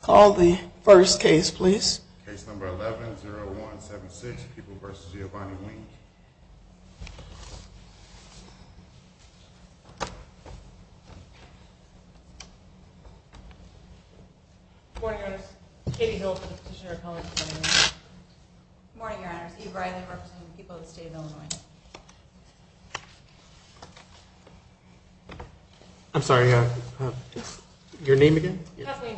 Call the first case please. Case number 11-0176, People v. Giovanni Weems. Good morning, Your Honors. Katie Hill for the Petitioner of College of Illinois. Good morning, Your Honors. Eve Riley representing the people of the state of Illinois. I'm sorry, your name again? Kathleen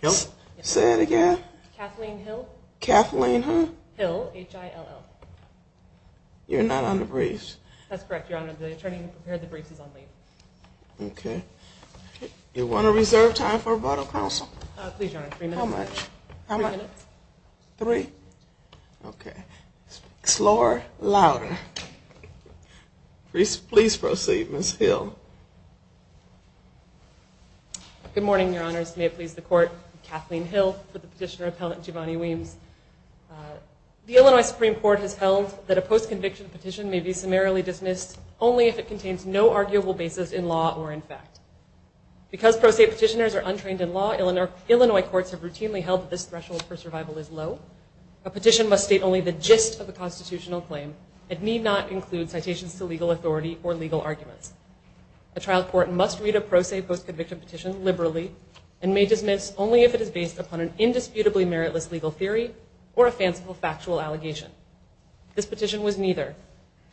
Hill. Say that again? Kathleen Hill. Kathleen, huh? Hill, H-I-L-L. You're not on the briefs? That's correct, Your Honor. The attorney who prepared the briefs is on leave. Okay. Do you want to reserve time for a vote of counsel? Please, Your Honor, three minutes. How much? Three minutes. Three? Okay. Speak slower, louder. Please proceed, Ms. Hill. Good morning, Your Honors. May it please the Court. Kathleen Hill for the Petitioner Appellate Giovanni Weems. The Illinois Supreme Court has held that a post-conviction petition may be summarily dismissed only if it contains no arguable basis in law or in fact. Because pro se petitioners are untrained in law, Illinois courts have routinely held that this threshold for survival is low. A petition must state only the gist of the constitutional claim and need not include citations to legal authority or legal arguments. A trial court must read a pro se post-conviction petition liberally and may dismiss only if it is based upon an indisputably meritless legal theory or a fanciful factual allegation. This petition was neither.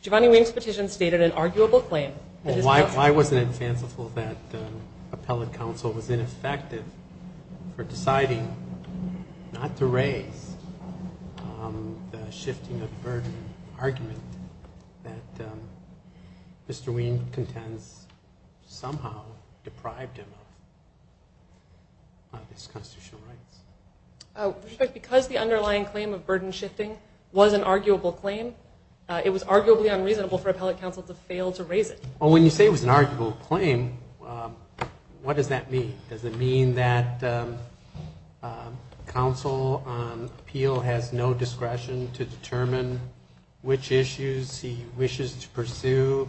Giovanni Weems' petition stated an arguable claim. Why wasn't it fanciful that appellate counsel was ineffective for deciding not to raise the shifting of burden argument that Mr. Weems contends somehow deprived him of his constitutional rights? Because the underlying claim of burden shifting was an arguable claim, it was arguably unreasonable for appellate counsel to fail to raise it. When you say it was an arguable claim, what does that mean? Does it mean that counsel on appeal has no discretion to determine which issues he wishes to pursue?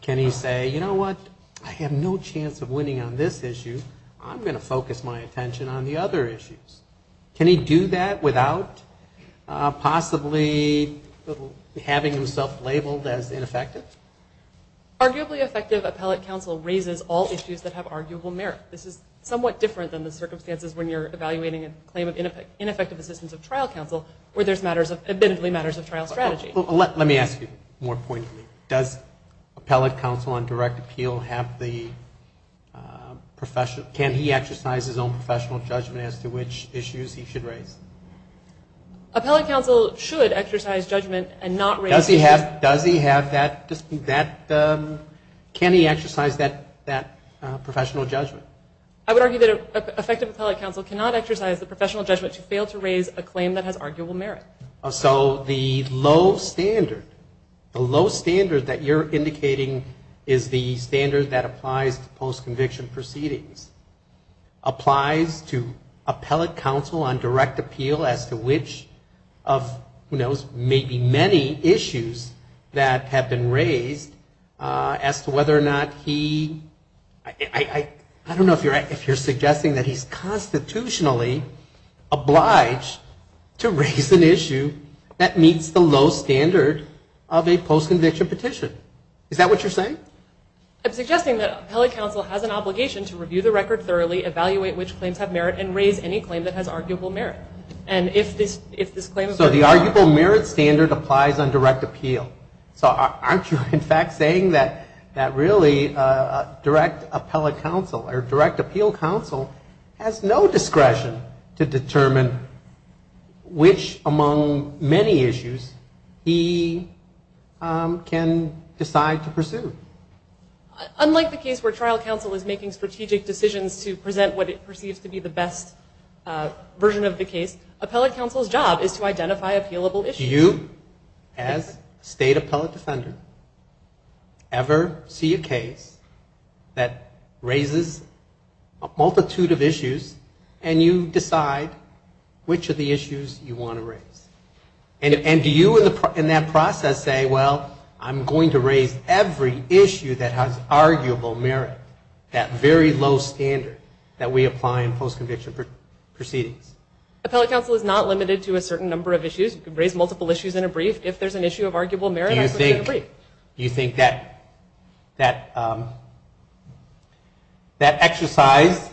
Can he say, you know what, I have no chance of winning on this issue, I'm going to focus my attention on the other issues. Can he do that without possibly having himself labeled as ineffective? Arguably effective appellate counsel raises all issues that have arguable merit. This is somewhat different than the circumstances when you're evaluating a claim of ineffective assistance of trial counsel where there's matters of, admittedly, matters of trial strategy. Let me ask you more pointedly, does appellate counsel on direct appeal have the, can he exercise his own professional judgment as to which issues he should raise? Appellate counsel should exercise judgment and not raise issues. Does he have that, can he exercise that professional judgment? I would argue that effective appellate counsel cannot exercise the professional judgment to fail to raise a claim that has arguable merit. So the low standard, the low standard that you're indicating is the standard that applies to post-conviction proceedings. Applies to appellate counsel on direct appeal as to which of, who knows, maybe many issues that have been raised as to whether or not he, I don't know if you're suggesting that he's constitutionally obliged to raise an issue that meets the low standard of a post-conviction petition. Is that what you're saying? I'm suggesting that appellate counsel has an obligation to review the record thoroughly, evaluate which claims have merit, and raise any claim that has arguable merit. And if this, if this claim of... So the arguable merit standard applies on direct appeal. So aren't you in fact saying that really direct appellate counsel or direct appeal counsel has no discretion to determine which among many issues he can decide to pursue? Unlike the case where trial counsel is making strategic decisions to present what it perceives to be the best version of the case, appellate counsel's job is to identify appealable issues. Do you as state appellate defender ever see a case that raises a multitude of issues and you decide which of the issues you want to raise? And do you in that process say, well, I'm going to raise every issue that has arguable merit, that very low standard that we apply in post-conviction proceedings? Appellate counsel is not limited to a certain number of issues. You can raise multiple issues in a brief. If there's an issue of arguable merit... Do you think that exercise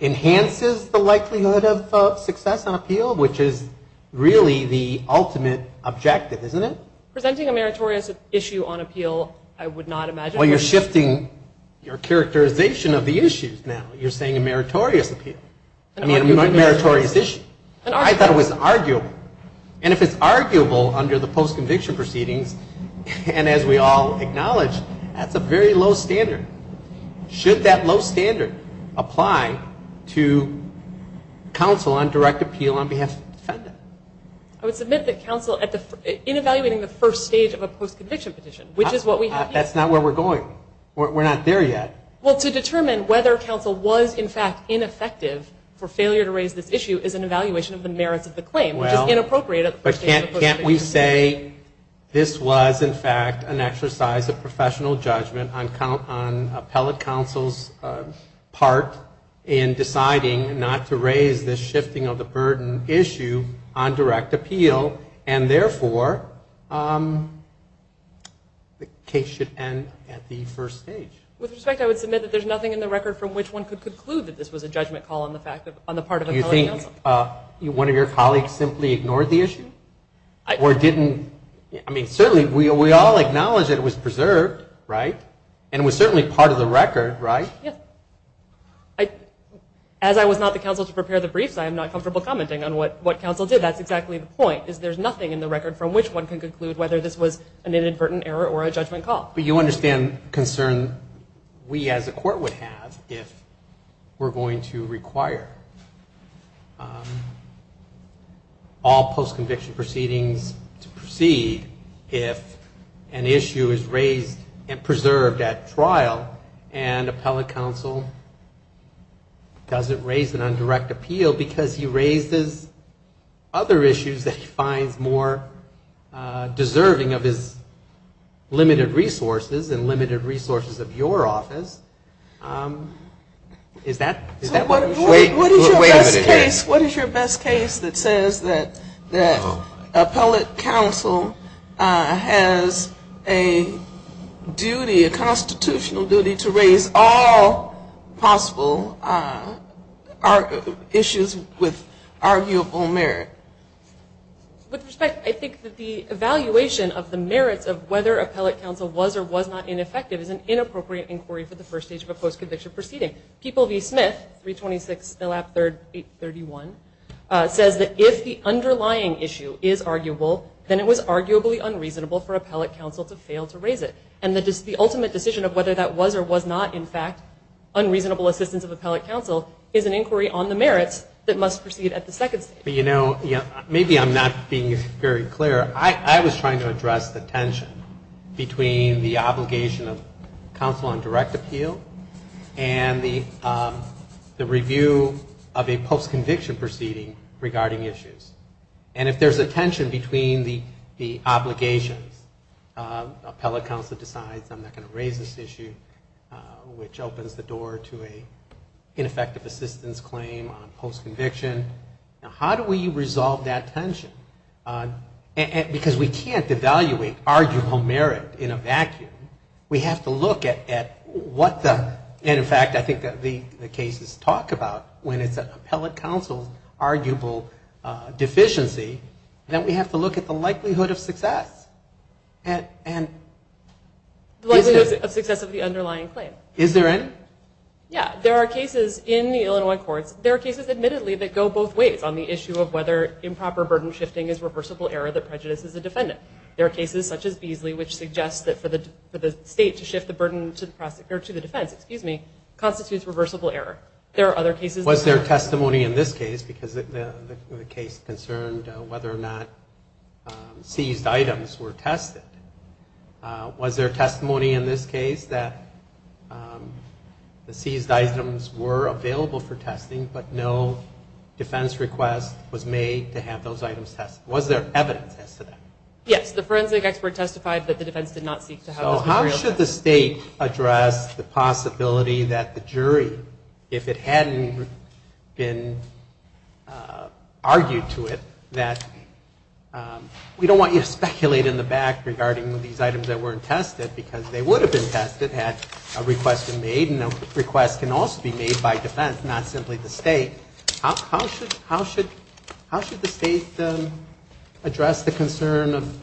enhances the likelihood of success on appeal, which is really the ultimate objective, isn't it? Presenting a meritorious issue on appeal, I would not imagine... Well, you're shifting your characterization of the issues now. You're saying a meritorious appeal, a meritorious issue. I thought it was arguable. And if it's arguable under the post-conviction proceedings, and as we all acknowledge, that's a very low standard. Should that low standard apply to counsel on direct appeal on behalf of the defendant? I would submit that counsel, in evaluating the first stage of a post-conviction petition, which is what we have here... That's not where we're going. We're not there yet. Well, to determine whether counsel was, in fact, ineffective for failure to raise this issue, is an evaluation of the merits of the claim, which is inappropriate at the first stage of the post-conviction. Can't we say this was, in fact, an exercise of professional judgment on appellate counsel's part in deciding not to raise this shifting of the burden issue on direct appeal, and therefore the case should end at the first stage? With respect, I would submit that there's nothing in the record from which one could conclude that this was a judgment call on the part of appellate counsel. Do you think one of your colleagues simply ignored the issue? Or didn't... I mean, certainly, we all acknowledge that it was preserved, right? And it was certainly part of the record, right? Yes. As I was not the counsel to prepare the briefs, I am not comfortable commenting on what counsel did. That's exactly the point, is there's nothing in the record from which one can conclude whether this was an inadvertent error or a judgment call. But you understand the concern we as a court would have if we're going to require all post-conviction proceedings to proceed if an issue is raised and preserved at trial and appellate counsel doesn't raise it on direct appeal because he raises other issues that he finds more deserving of his limited resources and limited resources of your office. Is that what you're saying? Wait a minute here. What is your best case that says that appellate counsel has a duty, a constitutional duty, to raise all possible issues with arguable merit? With respect, I think that the evaluation of the merits of whether appellate counsel was or was not ineffective is an inappropriate inquiry for the first stage of a post-conviction proceeding. People v. Smith, 326-331, says that if the underlying issue is arguable, then it was arguably unreasonable for appellate counsel to fail to raise it. And the ultimate decision of whether that was or was not, in fact, unreasonable assistance of appellate counsel is an inquiry on the merits that must proceed at the second stage. Maybe I'm not being very clear. I was trying to address the tension between the obligation of counsel on direct appeal and the review of a post-conviction proceeding regarding issues. And if there's a tension between the obligations, appellate counsel decides, I'm not going to raise this issue, which opens the door to an ineffective assistance claim on post-conviction. Now, how do we resolve that tension? Because we can't evaluate arguable merit in a vacuum. We have to look at what the, and in fact, I think the cases talk about, when it's appellate counsel's arguable deficiency, that we have to look at the likelihood of success. The likelihood of success of the underlying claim. Is there any? Yeah. There are cases in the Illinois courts, there are cases admittedly that go both ways on the issue of whether improper burden shifting is reversible error that prejudices the defendant. There are cases such as Beasley which suggests that for the state to shift the burden to the defense constitutes reversible error. There are other cases. Was there testimony in this case, because the case concerned whether or not seized items were tested. Was there testimony in this case that the seized items were available for testing, but no defense request was made to have those items tested? Was there evidence as to that? Yes. How should the state address the possibility that the jury, if it hadn't been argued to it, that we don't want you to speculate in the back regarding these items that weren't tested, because they would have been tested had a request been made, and a request can also be made by defense, not simply the state. Okay. How should the state address the concern of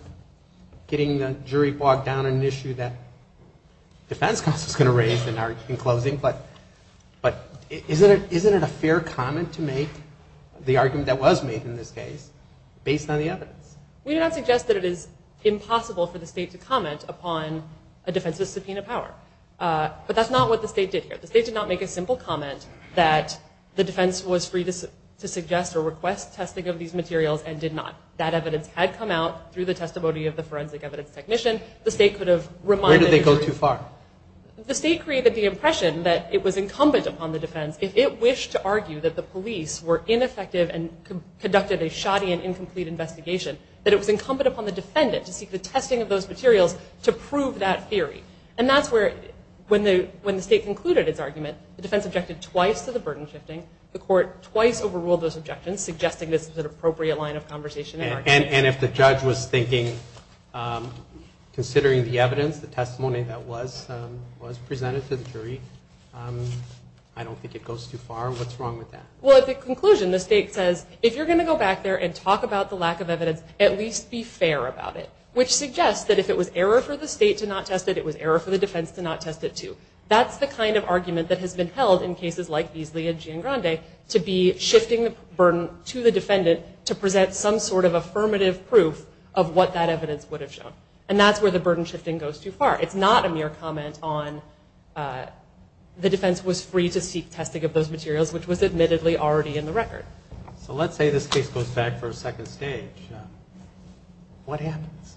getting the jury bogged down in an issue that defense counsel is going to raise in closing, but isn't it a fair comment to make, the argument that was made in this case, based on the evidence? We do not suggest that it is impossible for the state to comment upon a defense with subpoena power, but that's not what the state did here. The state did not make a simple comment that the defense was free to suggest or request testing of these materials and did not. That evidence had come out through the testimony of the forensic evidence technician. Where did they go too far? The state created the impression that it was incumbent upon the defense, if it wished to argue that the police were ineffective and conducted a shoddy and incomplete investigation, that it was incumbent upon the defendant to seek the testing of those materials to prove that theory. And that's where, when the state concluded its argument, the defense objected twice to the burden shifting. The court twice overruled those objections, suggesting this was an appropriate line of conversation. And if the judge was thinking, considering the evidence, the testimony that was presented to the jury, I don't think it goes too far. What's wrong with that? Well, at the conclusion, the state says, if you're going to go back there and talk about the lack of evidence, at least be fair about it, which suggests that if it was error for the state to not test it, it was error for the defense to not test it, too. That's the kind of argument that has been held in cases like Beasley and Giangrande, to be shifting the burden to the defendant to present some sort of affirmative proof of what that evidence would have shown. And that's where the burden shifting goes too far. It's not a mere comment on the defense was free to seek testing of those materials, which was admittedly already in the record. All right. So let's say this case goes back for a second stage. What happens?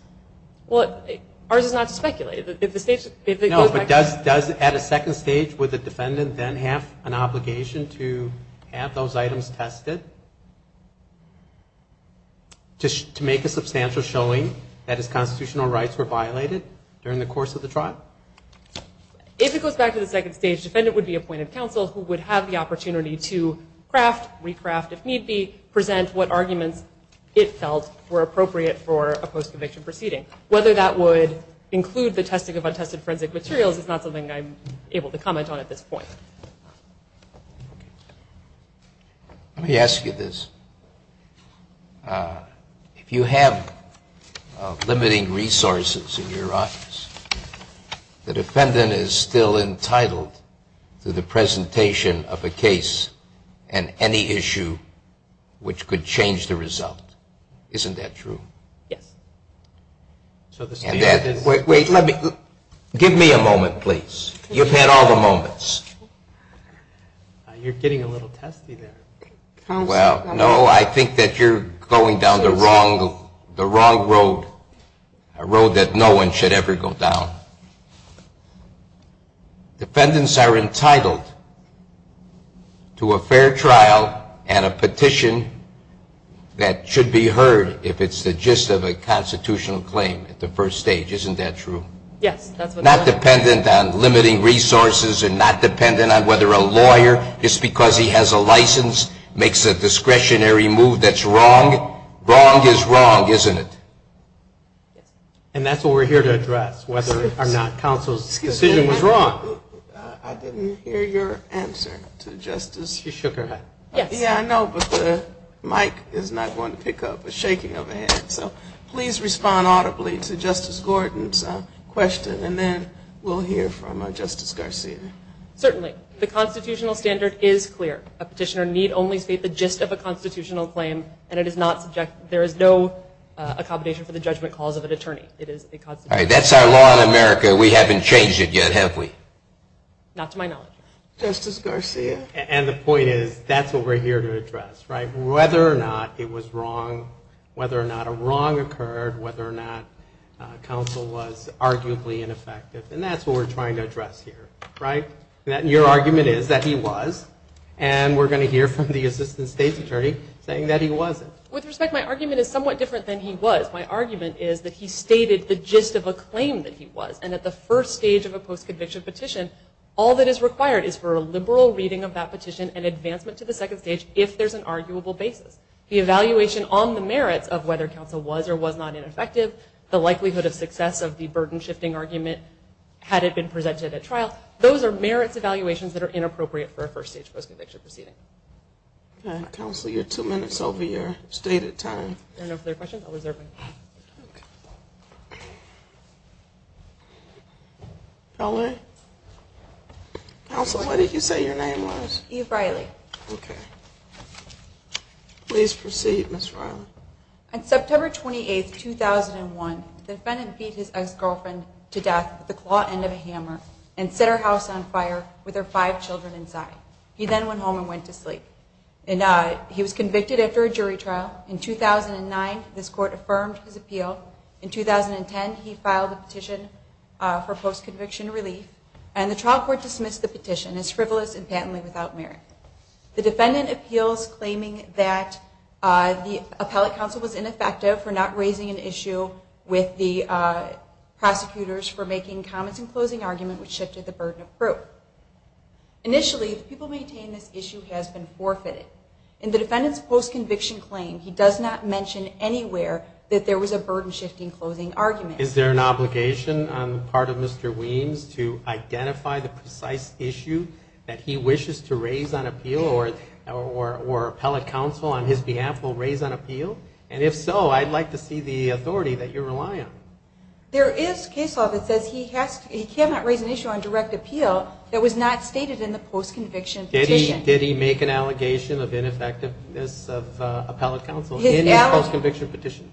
Well, ours is not to speculate. No, but does, at a second stage, would the defendant then have an obligation to have those items tested to make a substantial showing that his constitutional rights were violated during the course of the trial? If it goes back to the second stage, the defendant would be appointed counsel who would have the opportunity to craft, recraft, if need be, present what arguments it felt were appropriate for a post-conviction proceeding. Whether that would include the testing of untested forensic materials is not something I'm able to comment on at this point. Let me ask you this. If you have limiting resources in your office, the defendant is still entitled to the presentation of a case and any issue which could change the result. Isn't that true? Yes. Wait. Give me a moment, please. You've had all the moments. You're getting a little testy there. Well, no, I think that you're going down the wrong road, a road that no one should ever go down. Defendants are entitled to a fair trial and a petition that should be heard if it's the gist of a constitutional claim at the first stage. Isn't that true? Yes. Not dependent on limiting resources and not dependent on whether a lawyer, just because he has a license, makes a discretionary move that's wrong. Wrong is wrong, isn't it? And that's what we're here to address, whether or not counsel's decision was wrong. I didn't hear your answer to Justice. You shook her head. Yes. Yeah, I know, but the mic is not going to pick up. It's shaking overhead. So please respond audibly to Justice Gordon's question, and then we'll hear from Justice Garcia. Certainly. The constitutional standard is clear. A petitioner need only state the gist of a constitutional claim, and there is no accommodation for the judgment cause of an attorney. It is a constitutional claim. That's our law in America. We haven't changed it yet, have we? Not to my knowledge. Justice Garcia? And the point is, that's what we're here to address, right, whether or not it was wrong, whether or not a wrong occurred, whether or not counsel was arguably ineffective, and that's what we're trying to address here, right? Your argument is that he was, and we're going to hear from the assistant state's attorney saying that he wasn't. With respect, my argument is somewhat different than he was. My argument is that he stated the gist of a claim that he was, and at the first stage of a post-conviction petition, all that is required is for a liberal reading of that petition and advancement to the second stage if there's an arguable basis. The evaluation on the merits of whether counsel was or was not ineffective, the likelihood of success of the burden-shifting argument had it been presented at trial, those are merits evaluations that are inappropriate for a first-stage post-conviction proceeding. Okay. Counsel, you're two minutes over your stated time. There are no further questions. I'll reserve my time. Okay. Pelley? Counsel, what did you say your name was? Eve Riley. Eve Riley. Okay. Please proceed, Ms. Riley. On September 28, 2001, the defendant beat his ex-girlfriend to death with the claw end of a hammer and set her house on fire with her five children inside. He then went home and went to sleep. He was convicted after a jury trial. In 2009, this Court affirmed his appeal. In 2010, he filed a petition for post-conviction relief, and the trial court dismissed the petition as frivolous and patently without merit. The defendant appeals claiming that the appellate counsel was ineffective for not raising an issue with the prosecutors for making comments in closing argument which shifted the burden of proof. Initially, the people maintaining this issue has been forfeited. In the defendant's post-conviction claim, he does not mention anywhere that there was a burden-shifting closing argument. Is there an obligation on the part of Mr. Weems to identify the precise issue that he wishes to raise on appeal or appellate counsel on his behalf will raise on appeal? And if so, I'd like to see the authority that you rely on. There is case law that says he cannot raise an issue on direct appeal that was not stated in the post-conviction petition. Did he make an allegation of ineffectiveness of appellate counsel in his post-conviction petition?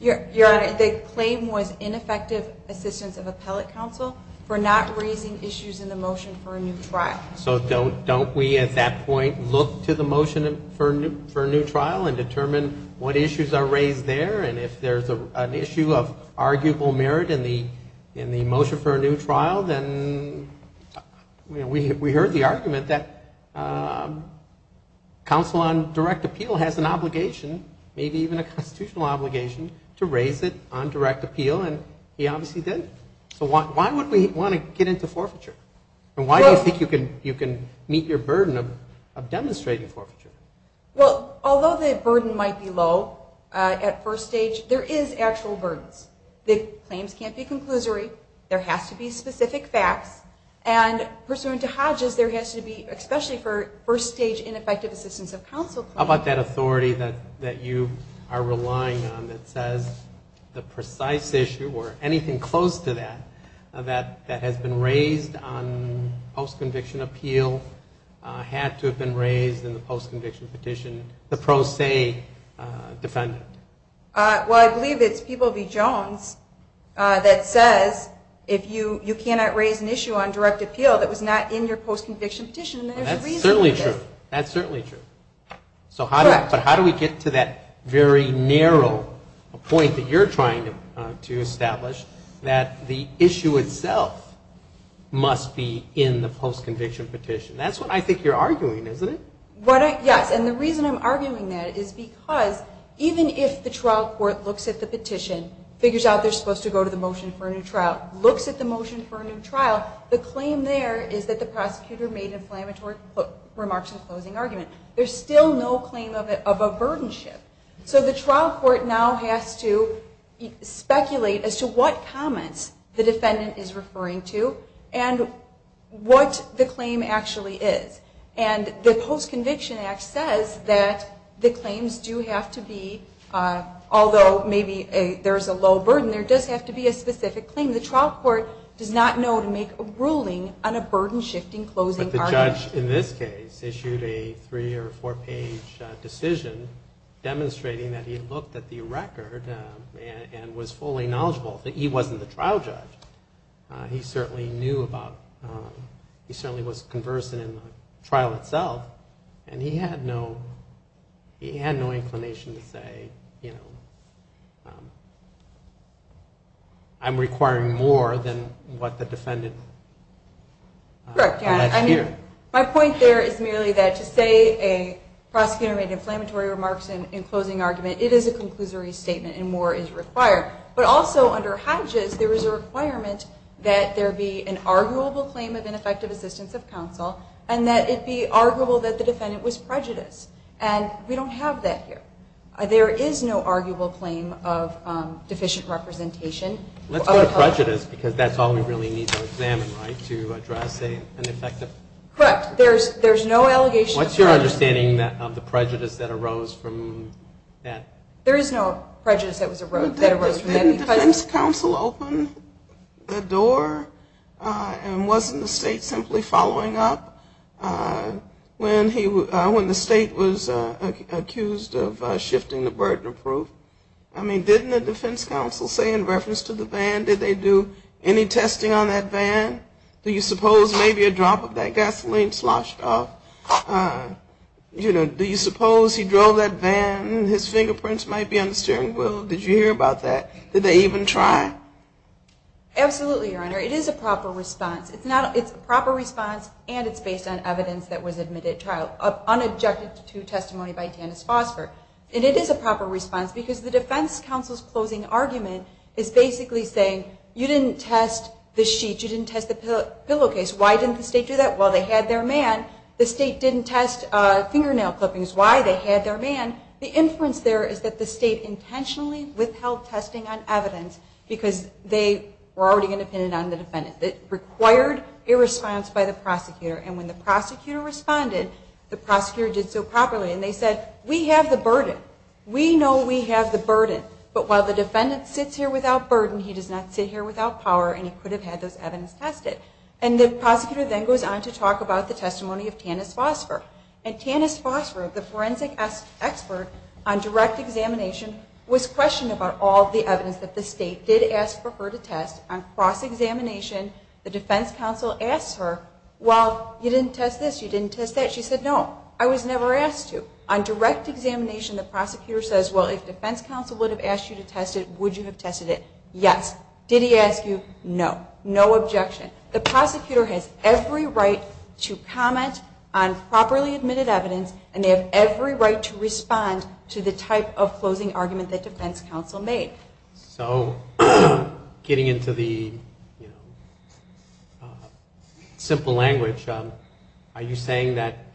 Your Honor, the claim was ineffective assistance of appellate counsel for not raising issues in the motion for a new trial. So don't we at that point look to the motion for a new trial and determine what issues are raised there? And if there's an issue of arguable merit in the motion for a new trial, then we heard the argument that counsel on direct appeal has an obligation, maybe even a constitutional obligation, to raise it on direct appeal, and he obviously did. So why would we want to get into forfeiture? And why do you think you can meet your burden of demonstrating forfeiture? Well, although the burden might be low at first stage, there is actual burdens. The claims can't be conclusory. There has to be specific facts. And pursuant to Hodges, there has to be, especially for first-stage ineffective assistance of counsel claims. How about that authority that you are relying on that says the precise issue or anything close to that that has been raised on post-conviction appeal had to have been raised in the post-conviction petition, the pro se defendant? Well, I believe it's Peeble v. Jones that says you cannot raise an issue on direct appeal that was not in your post-conviction petition, and there's a reason for this. That's certainly true. But how do we get to that very narrow point that you're trying to establish that the issue itself must be in the post-conviction petition? That's what I think you're arguing, isn't it? Yes, and the reason I'm arguing that is because even if the trial court looks at the petition, figures out they're supposed to go to the motion for a new trial, looks at the motion for a new trial, the claim there is that the prosecutor made inflammatory remarks in the closing argument. There's still no claim of a burdenship. So the trial court now has to speculate as to what comments the defendant is referring to and what the claim actually is. And the Post-Conviction Act says that the claims do have to be, although maybe there's a low burden, there does have to be a specific claim. The trial court does not know to make a ruling on a burden-shifting closing argument. But the judge in this case issued a three- or four-page decision demonstrating that he looked at the record and was fully knowledgeable. He wasn't the trial judge. He certainly was conversant in the trial itself, and he had no inclination to say, you know, I'm requiring more than what the defendant alleged here. My point there is merely that to say a prosecutor made inflammatory remarks in closing argument, it is a conclusory statement and more is required. But also under Hodges there is a requirement that there be an arguable claim of ineffective assistance of counsel and that it be arguable that the defendant was prejudiced. And we don't have that here. There is no arguable claim of deficient representation. Let's go to prejudice, because that's all we really need to examine, right, to address an effective. Correct. There's no allegation of prejudice. What's your understanding of the prejudice that arose from that? There is no prejudice that arose from that. Did the defense counsel open the door? And wasn't the state simply following up when the state was accused of shifting the burden of proof? I mean, didn't the defense counsel say in reference to the van, did they do any testing on that van? Do you suppose maybe a drop of that gasoline sloshed off? You know, do you suppose he drove that van and his fingerprints might be on the steering wheel? Did you hear about that? Did they even try? Absolutely, Your Honor. It is a proper response. It's a proper response, and it's based on evidence that was admitted trial, unobjected to testimony by Tannis Fosfer. And it is a proper response, because the defense counsel's closing argument is basically saying, you didn't test the sheets, you didn't test the pillowcase. Why didn't the state do that? Well, they had their man. The state didn't test fingernail clippings. Why? They had their man. The inference there is that the state intentionally withheld testing on evidence because they were already independent on the defendant. It required a response by the prosecutor. And when the prosecutor responded, the prosecutor did so properly. And they said, we have the burden. We know we have the burden. But while the defendant sits here without burden, he does not sit here without power, and he could have had those evidence tested. And the prosecutor then goes on to talk about the testimony of Tannis Fosfer. And Tannis Fosfer, the forensic expert on direct examination, was questioned about all the evidence that the state did ask for her to test. On cross-examination, the defense counsel asks her, well, you didn't test this, you didn't test that. She said, no, I was never asked to. On direct examination, the prosecutor says, well, if defense counsel would have asked you to test it, would you have tested it? Yes. Did he ask you? No. No objection. The prosecutor has every right to comment on properly admitted evidence, and they have every right to respond to the type of closing argument that defense counsel made. So getting into the simple language, are you saying that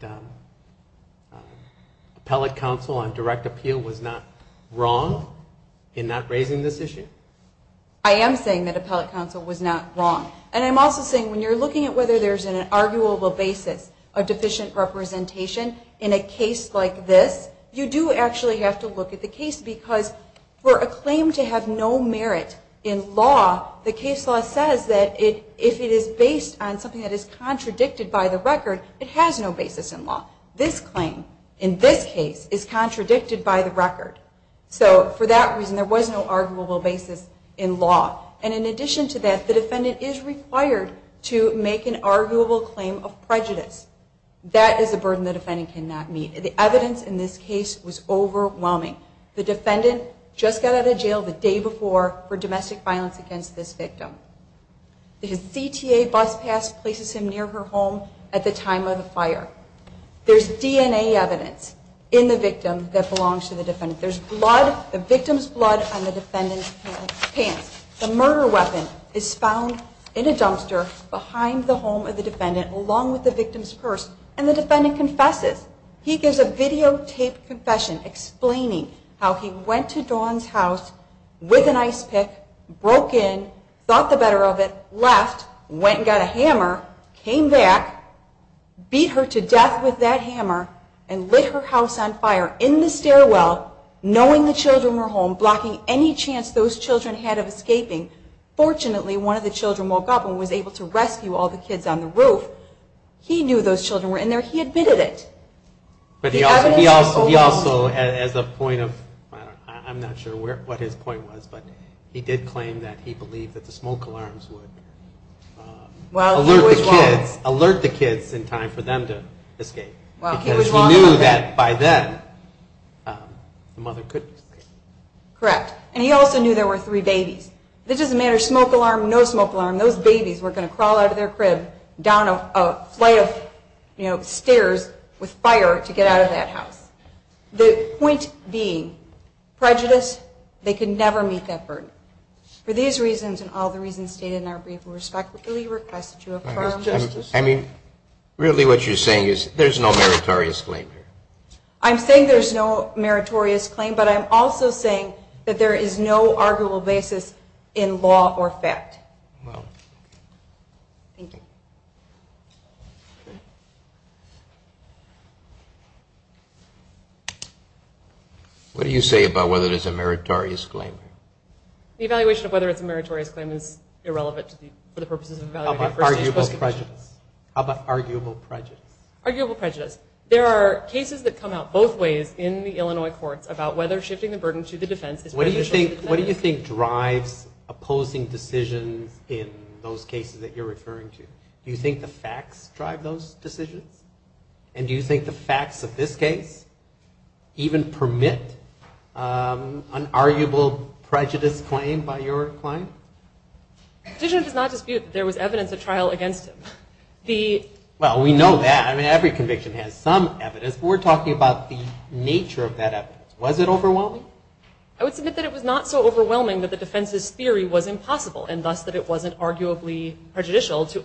appellate counsel on direct appeal was not wrong in not raising this issue? I am saying that appellate counsel was not wrong. And I'm also saying when you're looking at whether there's an arguable basis of deficient representation in a case like this, you do actually have to look at the case, because for a claim to have no merit in law, the case law says that if it is based on something that is contradicted by the record, it has no basis in law. This claim, in this case, is contradicted by the record. So for that reason, there was no arguable basis in law. And in addition to that, the defendant is required to make an arguable claim of prejudice. That is a burden the defendant cannot meet. The evidence in this case was overwhelming. The defendant just got out of jail the day before for domestic violence against this victim. His CTA bus pass places him near her home at the time of the fire. There's DNA evidence in the victim that belongs to the defendant. There's blood, the victim's blood, on the defendant's pants. The murder weapon is found in a dumpster behind the home of the defendant, along with the victim's purse, and the defendant confesses. He gives a videotaped confession explaining how he went to Dawn's house with an ice pick, broke in, thought the better of it, left, went and got a hammer, came back, beat her to death with that hammer, and lit her house on fire in the stairwell, knowing the children were home, blocking any chance those children had of escaping. Fortunately, one of the children woke up and was able to rescue all the kids on the roof. He knew those children were in there. He admitted it. But he also, as a point of, I'm not sure what his point was, but he did claim that he believed that the smoke alarms would alert the kids. It would put the kids in time for them to escape. Because he knew that by then the mother couldn't escape. Correct. And he also knew there were three babies. If it doesn't matter, smoke alarm, no smoke alarm, those babies were going to crawl out of their crib down a flight of stairs with fire to get out of that house. The point being, prejudice, they could never meet that burden. For these reasons and all the reasons stated in our brief, I mean, really what you're saying is there's no meritorious claim here. I'm saying there's no meritorious claim, but I'm also saying that there is no arguable basis in law or fact. Thank you. What do you say about whether there's a meritorious claim? The evaluation of whether it's a meritorious claim is irrelevant to the, for the purposes of evaluating a first-age post-conviction. How about arguable prejudice? Arguable prejudice. There are cases that come out both ways in the Illinois courts about whether shifting the burden to the defense is beneficial to the defense. What do you think drives opposing decisions in those cases that you're referring to? Do you think the facts drive those decisions? And do you think the facts of this case even permit an arguable prejudice claim by your client? The petitioner does not dispute that there was evidence of trial against him. Well, we know that. I mean, every conviction has some evidence, but we're talking about the nature of that evidence. Was it overwhelming? I would submit that it was not so overwhelming that the defense's theory was impossible and thus that it wasn't arguably prejudicial to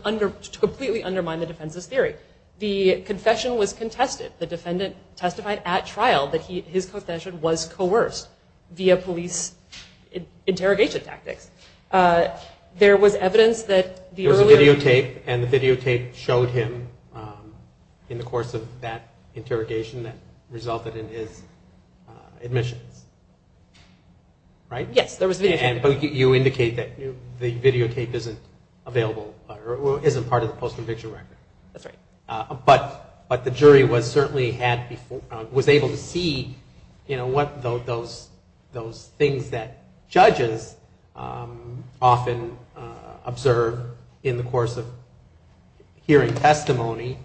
completely undermine the defense's theory. The confession was contested. The defendant testified at trial that his confession was coerced via police interrogation tactics. There was evidence that the earlier... There was a videotape, and the videotape showed him in the course of that interrogation that resulted in his admissions. Right? Yes, there was a videotape. But you indicate that the videotape isn't available or isn't part of the post-conviction record. That's right. But the jury was certainly able to see, you know, what those things that judges often observe in the course of hearing testimony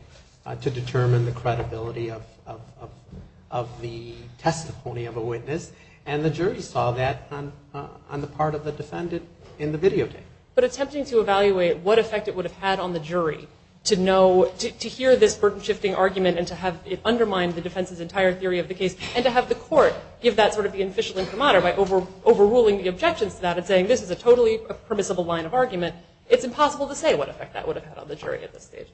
to determine the credibility of the testimony of a witness, and the jury saw that on the part of the defendant in the videotape. But attempting to evaluate what effect it would have had on the jury to know, to hear this burden-shifting argument and to have it undermine the defense's entire theory of the case, and to have the court give that sort of the official incommoder by overruling the objections to that and saying this is a totally permissible line of argument, it's impossible to say what effect that would have had on the jury at this stage.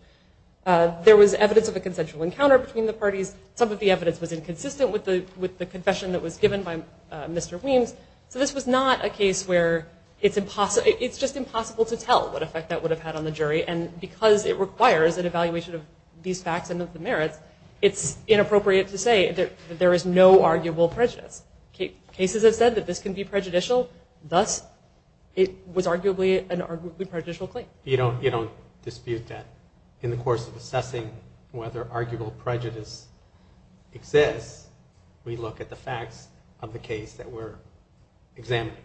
There was evidence of a consensual encounter between the parties. Some of the evidence was inconsistent with the confession that was given by Mr. Weems. So this was not a case where it's impossible, it's just impossible to tell what effect that would have had on the jury, and because it requires an evaluation of these facts and of the merits, it's inappropriate to say that there is no arguable prejudice. Cases have said that this can be prejudicial. Thus, it was arguably a prejudicial claim. You don't dispute that. In the course of assessing whether arguable prejudice exists, we look at the facts of the case that we're examining.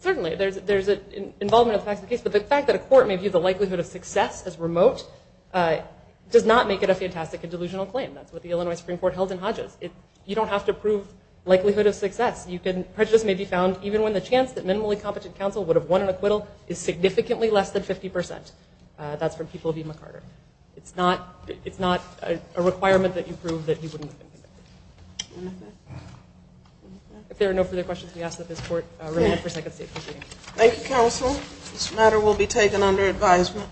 Certainly. There's an involvement of the facts of the case, but the fact that a court may view the likelihood of success as remote does not make it a fantastic and delusional claim. That's what the Illinois Supreme Court held in Hodges. You don't have to prove likelihood of success. Prejudice may be found even when the chance that minimally competent counsel would have won an acquittal is significantly less than 50%. That's from People v. McCarter. It's not a requirement that you prove that he wouldn't have been convicted. If there are no further questions, we ask that this court remain for a second. Thank you, Counsel. This matter will be taken under advisement.